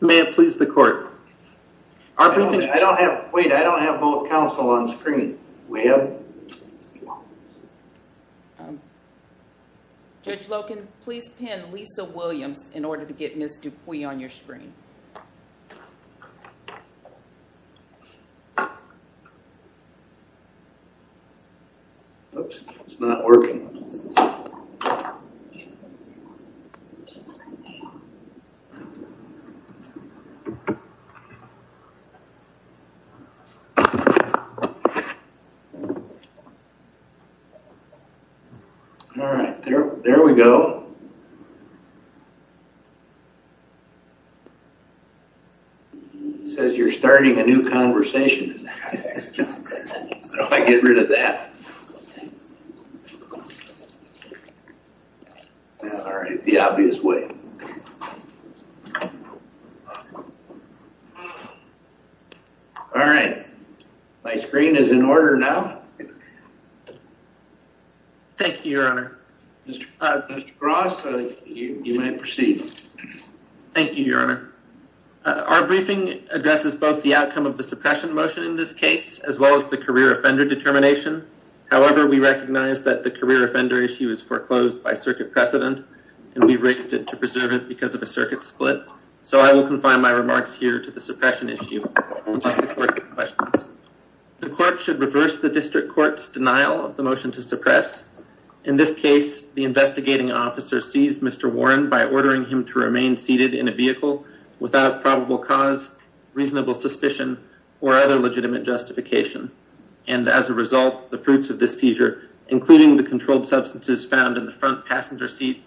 May I please the court? I don't have. Wait, I don't have both counsel on screen. We have judge Loken. Please pin Lisa Williams in order to get Miss Dupuy on your screen. Oops, it's not working. All right, there we go. Says you're starting a new conversation. I get rid of that. All right, the obvious way. All right. My screen is in order now. Thank you, Your Honor. Mr. Ross, you may proceed. Thank you, Your Honor. Our briefing addresses both the outcome of the suppression motion in this case, as well as the career offender determination. However, we recognize that the career offender issue is foreclosed by circuit precedent, and we've raised it to preserve it because of a circuit split. So I will confine my remarks here to the suppression issue. The court should reverse the district court's denial of the motion to suppress. In this case, the investigating officer seized Mr. Warren by ordering him to remain seated in a vehicle without probable cause, reasonable suspicion or other legitimate justification. And as a result, the fruits of this seizure, including the controlled substances found in the front passenger seat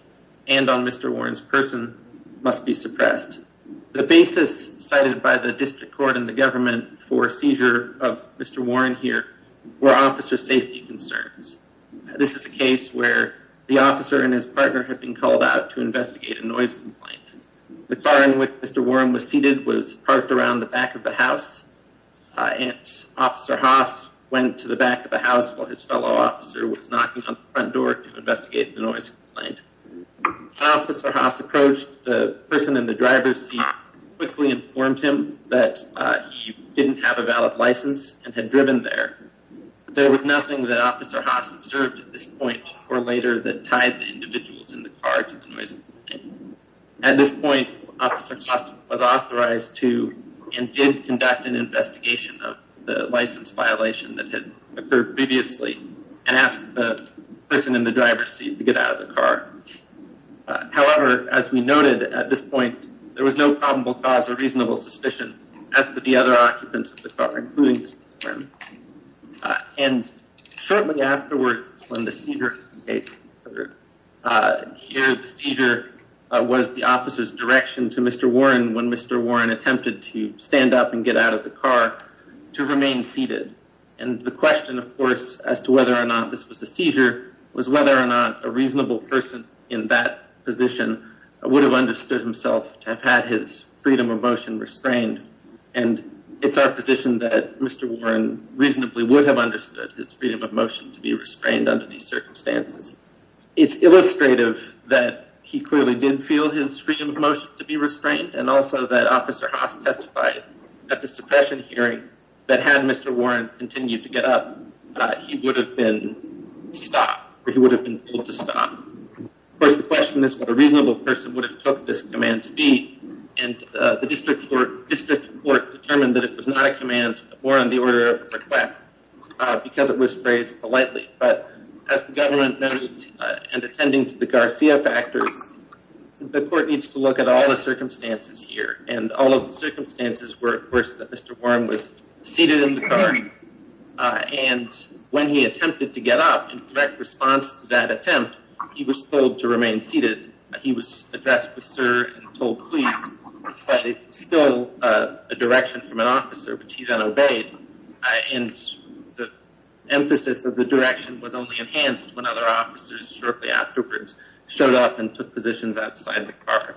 and on Mr. Warren's person must be suppressed. The basis cited by the district court and the government for seizure of Mr. Warren here were officer safety concerns. This is a case where the officer and his partner have been called out to investigate a noise complaint. The car in which Mr. Warren was seated was parked around the back of the house, and Officer Haas went to the back of the house while his fellow officer was knocking on the front door to investigate the noise complaint. When Officer Haas approached, the person in the driver's seat quickly informed him that he didn't have a valid license and had driven there. There was nothing that Officer Haas observed at this point or later that tied the individuals in the car to the noise complaint. At this point, Officer Haas was authorized to and did conduct an investigation of the license violation that had occurred previously and asked the person in the driver's seat to get out of the car. However, as we noted at this point, there was no probable cause or reasonable suspicion as to the other occupants of the car, including Mr. Warren. And shortly afterwards, when the seizure occurred, the seizure was the officer's direction to Mr. Warren when Mr. Warren attempted to stand up and get out of the car to remain seated. And the question, of course, as to whether or not this was a seizure was whether or not a reasonable person in that position would have understood himself to have had his freedom of motion restrained. And it's our position that Mr. Warren reasonably would have understood his freedom of motion to be restrained under these circumstances. It's illustrative that he clearly didn't feel his freedom of motion to be restrained. And also that Officer Haas testified at the suppression hearing that had Mr. Warren continued to get up, he would have been stopped or he would have been told to stop. Of course, the question is what a reasonable person would have took this command to be. And the district court determined that it was not a command or on the order of request because it was phrased politely. But as the government noted and attending to the Garcia factors, the court needs to look at all the circumstances here. And all of the circumstances were, of course, that Mr. Warren was seated in the car. And when he attempted to get up in response to that attempt, he was told to remain seated. And when he attempted to get up in response to that attempt, he was told to remain seated. He was addressed with Sir told still a direction from an officer, which he then obeyed. And the emphasis of the direction was only enhanced when other officers shortly afterwards showed up and took positions outside the car.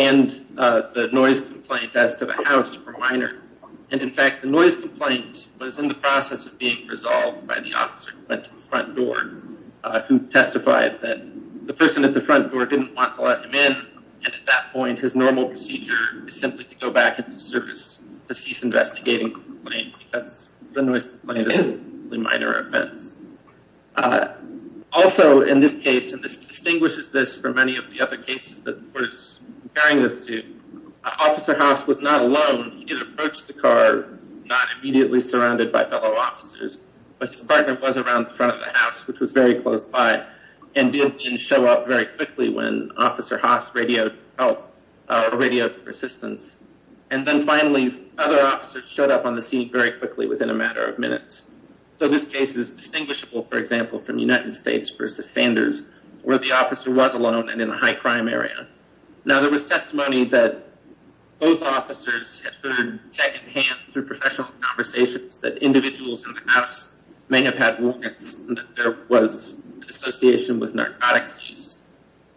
In fact, the noise complaint was in the process of being resolved by the front door. The front door didn't want to let him in, and at that point, his normal procedure is simply to go back into service to cease investigating the complaint, because the noise complaint is a minor offense. And that's what we're going to look at in this case. Also, in this case, and this distinguishes this from any of the other cases that was carrying this to officer house was not alone. It's not distinguishable, for example, from the United States versus Sanders, where the officer was alone and in a high crime area. Now, there was testimony that both officers had heard secondhand through professional conversations that individuals in the house may have had there was association with narcotics.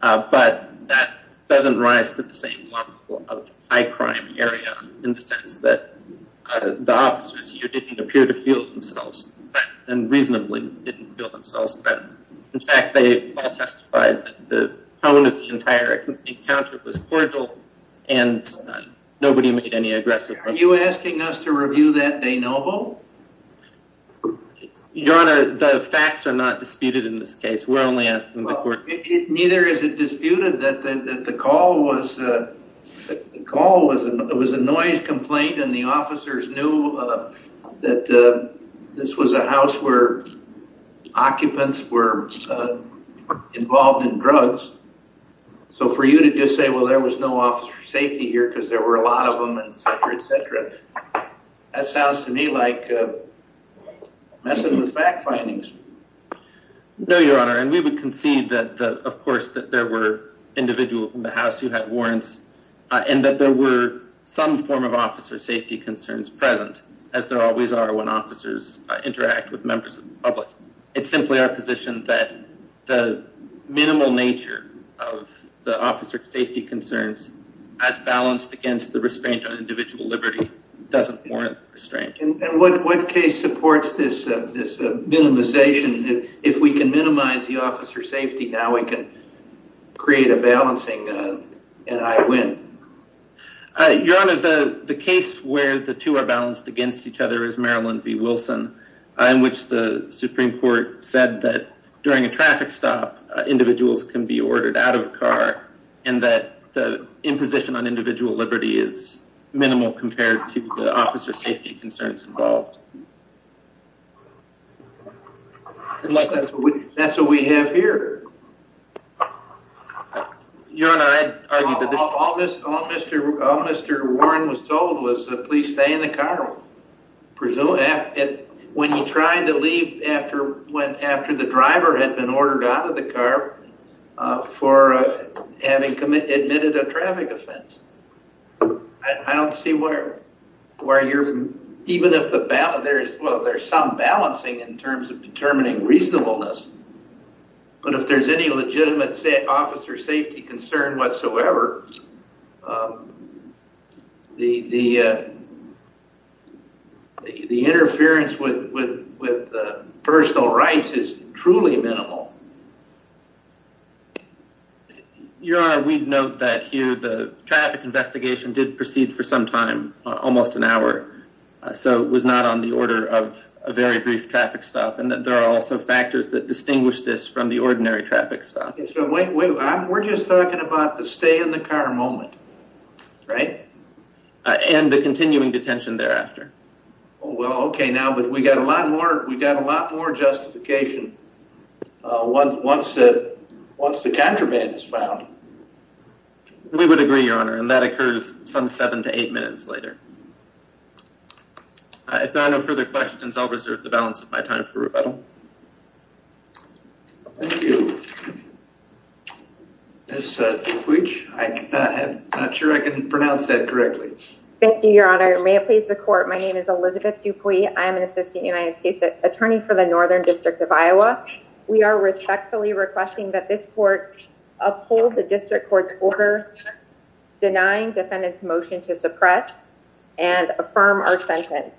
But that doesn't rise to the same level of high crime area in the sense that the officers here didn't appear to feel themselves and reasonably didn't feel themselves better. In fact, they all testified that the tone of the entire encounter was cordial, and nobody made any aggressive. Are you asking us to review that de novo? Your Honor, the facts are not disputed in this case. We're only asking the court. Neither is it disputed that the call was a noise complaint, and the officers knew that this was a house where occupants were involved in drugs. So for you to just say, well, there was no officer safety here because there were a lot of them, et cetera, et cetera. That sounds to me like messing with fact findings. No, Your Honor. And we would concede that, of course, that there were individuals in the house who had warrants and that there were some form of officer safety concerns present, as there always are when officers interact with members of the public. It's simply our position that the minimal nature of the officer safety concerns as balanced against the restraint on individual liberty doesn't warrant restraint. And what case supports this minimization? If we can minimize the officer safety now, we can create a balancing and I win. Your Honor, the case where the two are balanced against each other is Maryland v. Wilson, in which the Supreme Court said that during a traffic stop, individuals can be ordered out of a car and that the imposition on individual liberty is minimal compared to the officer safety concerns involved. Unless that's what we have here. Your Honor, I'd argue that this— All Mr. Warren was told was to please stay in the car. Presumably, when he tried to leave after the driver had been ordered out of the car for having admitted a traffic offense. I don't see where you're—even if there's some balancing in terms of determining reasonableness. But if there's any legitimate officer safety concern whatsoever, the interference with personal rights is truly minimal. Your Honor, we'd note that here the traffic investigation did proceed for some time, almost an hour. So it was not on the order of a very brief traffic stop. And there are also factors that distinguish this from the ordinary traffic stop. We're just talking about the stay-in-the-car moment, right? And the continuing detention thereafter. Well, okay now, but we've got a lot more justification once the contraband is found. We would agree, Your Honor, and that occurs some seven to eight minutes later. If there are no further questions, I'll reserve the balance of my time for rebuttal. Ms. Dupuis, I'm not sure I can pronounce that correctly. Thank you, Your Honor. May it please the court, my name is Elizabeth Dupuis. I am an Assistant United States Attorney for the Northern District of Iowa. We are respectfully requesting that this court uphold the district court's order denying defendant's motion to suppress and affirm our sentence.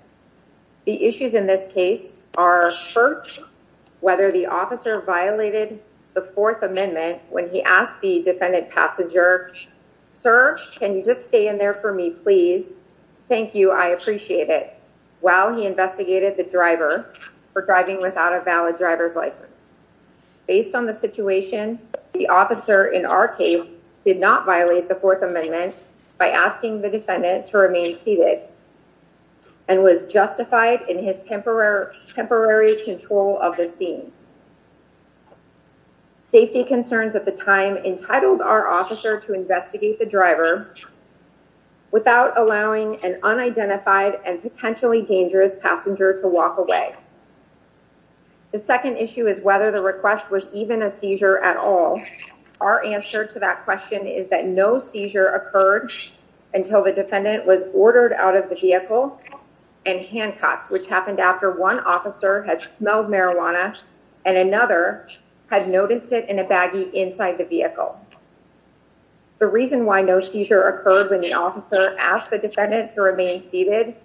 The issues in this case are, first, whether the officer violated the Fourth Amendment when he asked the defendant passenger, Sir, can you just stay in there for me, please? Thank you, I appreciate it, while he investigated the driver for driving without a valid driver's license. Based on the situation, the officer in our case did not violate the Fourth Amendment by asking the defendant to remain seated and was justified in his temporary control of the scene. Safety concerns at the time entitled our officer to investigate the driver without allowing an unidentified and potentially dangerous passenger to walk away. The second issue is whether the request was even a seizure at all. Our answer to that question is that no seizure occurred until the defendant was ordered out of the vehicle and handcuffed, which happened after one officer had smelled marijuana and another had noticed it in a baggie inside the vehicle. The reason why no seizure occurred when the officer asked the defendant to remain seated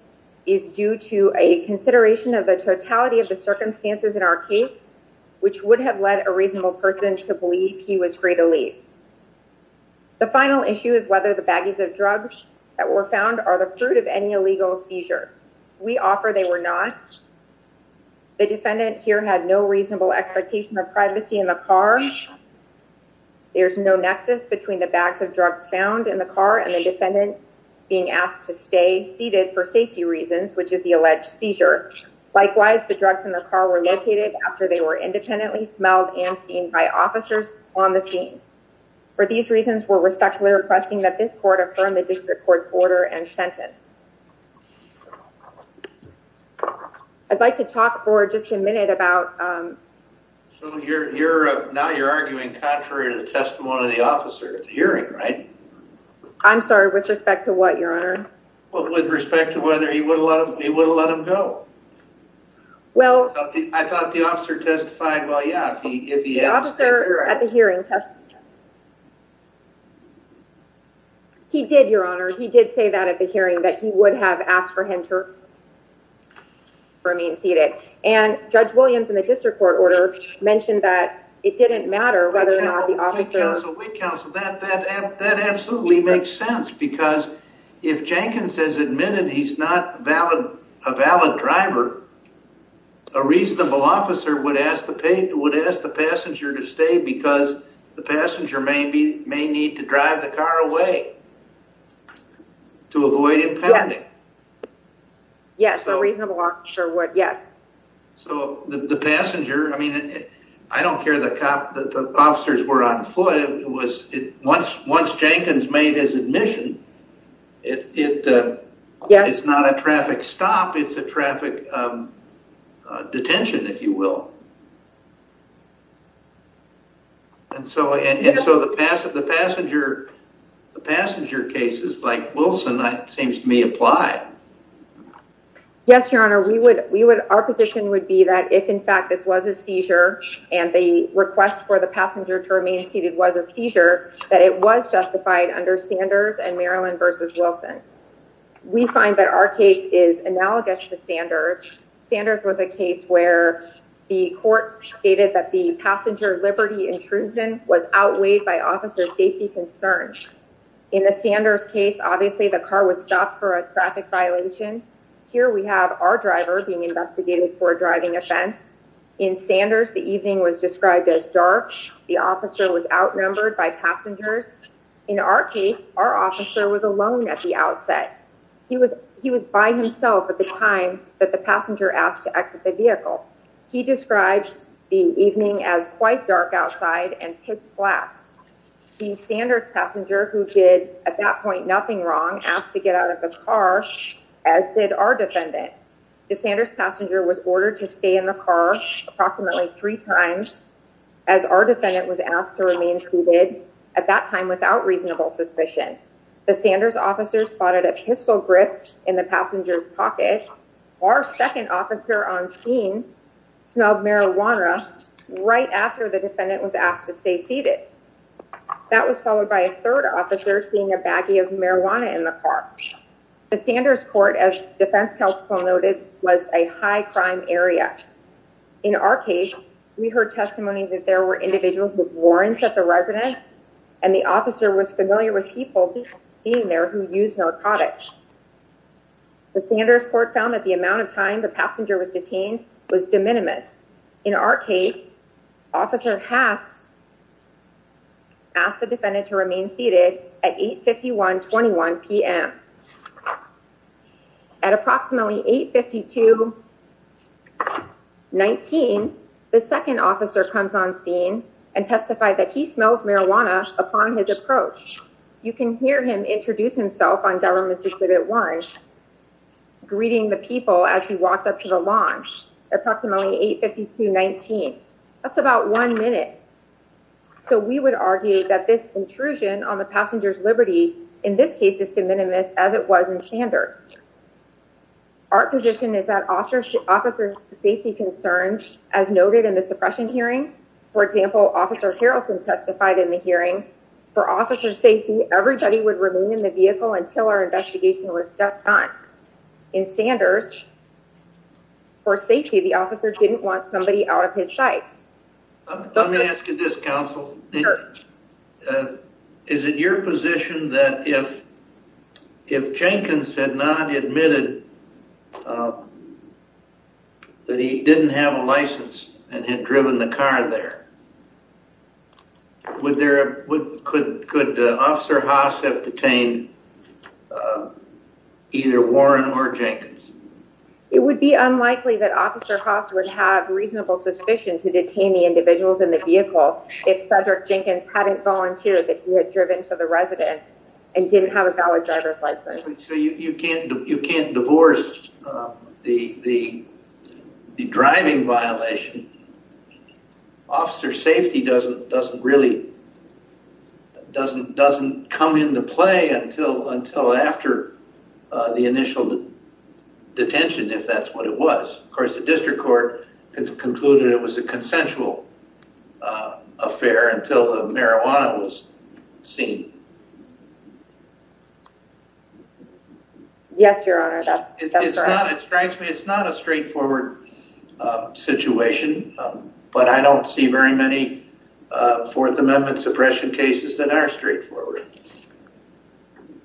is due to a consideration of the totality of the circumstances in our case, which would have led a reasonable person to believe he was free to leave. The final issue is whether the baggies of drugs that were found are the fruit of any illegal seizure. We offer they were not. The defendant here had no reasonable expectation of privacy in the car. There's no nexus between the bags of drugs found in the car and the defendant being asked to stay seated for safety reasons, which is the alleged seizure. Likewise, the drugs in the car were located after they were independently smelled and seen by officers on the scene. For these reasons, we're respectfully requesting that this court affirm the district court's order and sentence. I'd like to talk for just a minute about... So now you're arguing contrary to the testimony of the officer at the hearing, right? I'm sorry, with respect to what, Your Honor? Well, with respect to whether he would have let him go. Well... I thought the officer testified, well, yeah, if he asked... The officer at the hearing testified... He did, Your Honor, he did say that at the hearing, that he would have asked for him to remain seated. And Judge Williams in the district court order mentioned that it didn't matter whether or not the officer... Wait, counsel, wait, counsel. That absolutely makes sense because if Jenkins has admitted he's not a valid driver, a reasonable officer would ask the passenger to stay because the passenger may need to drive the car away to avoid impounding. Yes, a reasonable officer would, yes. So the passenger, I mean, I don't care that the officers were on foot, once Jenkins made his admission, it's not a traffic stop, it's a traffic detention, if you will. And so the passenger cases like Wilson seems to me apply. Yes, Your Honor, our position would be that if in fact this was a seizure and the request for the passenger to remain seated was a seizure, that it was justified under Sanders and Maryland v. Wilson. We find that our case is analogous to Sanders. Sanders was a case where the court stated that the passenger liberty intrusion was outweighed by officer safety concerns. In the Sanders case, obviously the car was stopped for a traffic violation. Here we have our driver being investigated for a driving offense. In Sanders, the evening was described as dark. The officer was outnumbered by passengers. In our case, our officer was alone at the outset. He was by himself at the time that the passenger asked to exit the vehicle. He describes the evening as quite dark outside and pitch black. The Sanders passenger, who did at that point nothing wrong, asked to get out of the car, as did our defendant. The Sanders passenger was ordered to stay in the car approximately three times as our defendant was asked to remain seated at that time without reasonable suspicion. The Sanders officer spotted a pistol grip in the passenger's pocket. Our second officer on scene smelled marijuana right after the defendant was asked to stay seated. That was followed by a third officer seeing a baggie of marijuana in the car. The Sanders court, as defense counsel noted, was a high-crime area. In our case, we heard testimony that there were individuals with warrants at the residence and the officer was familiar with people being there who used narcotics. The Sanders court found that the amount of time the passenger was detained was de minimis. In our case, officer asked the defendant to remain seated at 8.51, 21 p.m. At approximately 8.52, 19, the second officer comes on scene and testified that he smells marijuana upon his approach. You can hear him introduce himself on government's Exhibit 1, greeting the people as he walked up to the lawn. The Sanders court found that the amount of time the passenger was detained was de minimis. Approximately 8.52, 19. That's about one minute. So we would argue that this intrusion on the passenger's liberty, in this case, is de minimis as it was in Sanders. Our position is that officers' safety concerns, as noted in the suppression hearing, for officers' safety, everybody would remain in the vehicle until our investigation was done. In Sanders, for safety, the officer didn't want somebody out of his sight. Let me ask you this, counsel. Sure. Is it your position that if Jenkins had not admitted that he didn't have a license and had driven the car there, could Officer Haas have detained either Warren or Jenkins? It would be unlikely that Officer Haas would have reasonable suspicion to detain the individuals in the vehicle if Cedric Jenkins hadn't volunteered that he had driven to the residence and didn't have a valid driver's license. You can't divorce the driving violation. Officer safety doesn't really come into play until after the initial detention, if that's what it was. Of course, the district court concluded it was a consensual affair until the marijuana was seen. Yes, Your Honor, that's correct. It's not a straightforward situation, but I don't see very many Fourth Amendment suppression cases that are straightforward.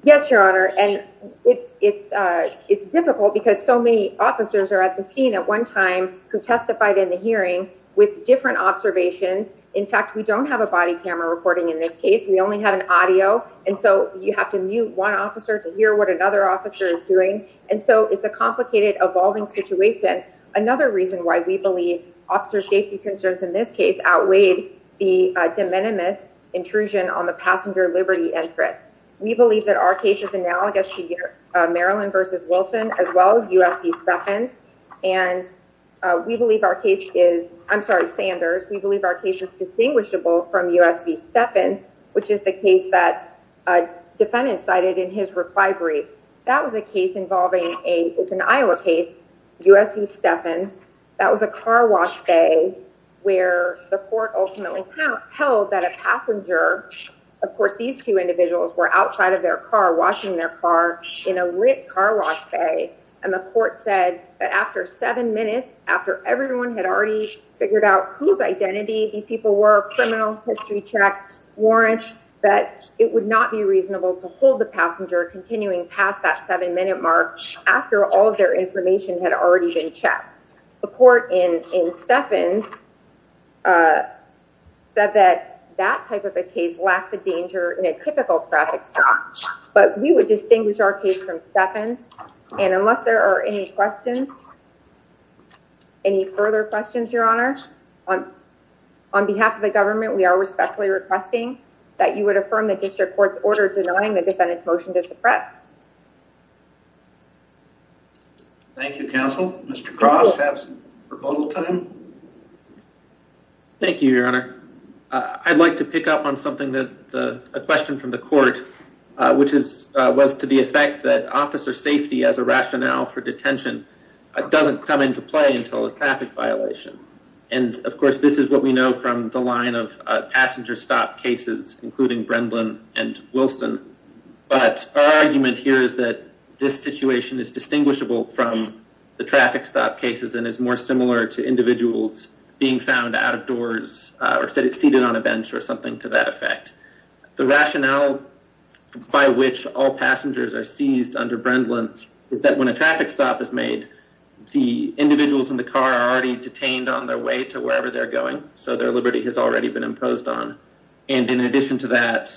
Yes, Your Honor. And it's difficult because so many officers are at the scene at one time who testified in the hearing with different observations. In fact, we don't have a body camera recording in this case. We only have an audio. And so you have to mute one officer to hear what another officer is doing. And so it's a complicated, evolving situation. Another reason why we believe officer safety concerns in this case outweighed the de minimis intrusion on the passenger liberty entrance. We believe that our case is analogous to Maryland versus Wilson as well as U.S. second. And we believe our case is I'm sorry, Sanders. We believe our case is distinguishable from U.S. second, which is the case that a defendant cited in his reply brief. That was a case involving a it's an Iowa case, U.S. v. Stephan. That was a car wash day where the court ultimately held that a passenger. Of course, these two individuals were outside of their car, washing their car in a lit car wash bay. And the court said that after seven minutes, after everyone had already figured out whose identity these people were, criminal history checks, warrants that it would not be reasonable to hold the passenger. Continuing past that seven minute mark after all of their information had already been checked. The court in Stephan said that that type of a case lacked the danger in a typical traffic stop. But we would distinguish our case from Stephan's. And unless there are any questions, any further questions, Your Honor, on behalf of the government, we are respectfully requesting that you would affirm the district court's order. Thank you, counsel. Mr. Cross have some time. Thank you, Your Honor. I'd like to pick up on something that the question from the court, which is was to the effect that officer safety as a rationale for detention doesn't come into play until a traffic violation. And of course, this is what we know from the line of passenger stop cases, including Brendan and Wilson. But our argument here is that this situation is distinguishable from the traffic stop cases and is more similar to individuals being found out of doors or seated on a bench or something to that effect. The rationale by which all passengers are seized under Brendan is that when a traffic stop is made, the individuals in the car are already detained on their way to wherever they're going. So their liberty has already been imposed on. And in addition to that,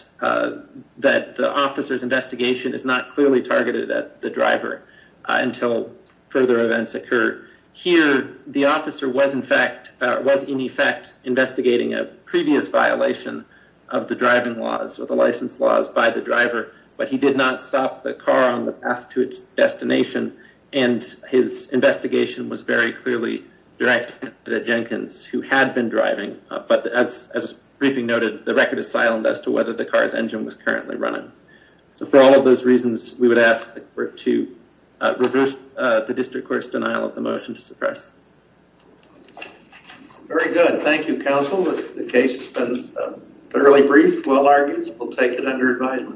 that the officer's investigation is not clearly targeted at the driver until further events occur here. The officer was, in fact, was in effect investigating a previous violation of the driving laws or the license laws by the driver. But he did not stop the car on the path to its destination. And his investigation was very clearly directed at Jenkins, who had been driving. But as briefing noted, the record is silent as to whether the car's engine was currently running. So for all of those reasons, we would ask the court to reverse the district court's denial of the motion to suppress. Very good. Thank you, counsel. The case has been fairly brief, well argued. We'll take it under advisement.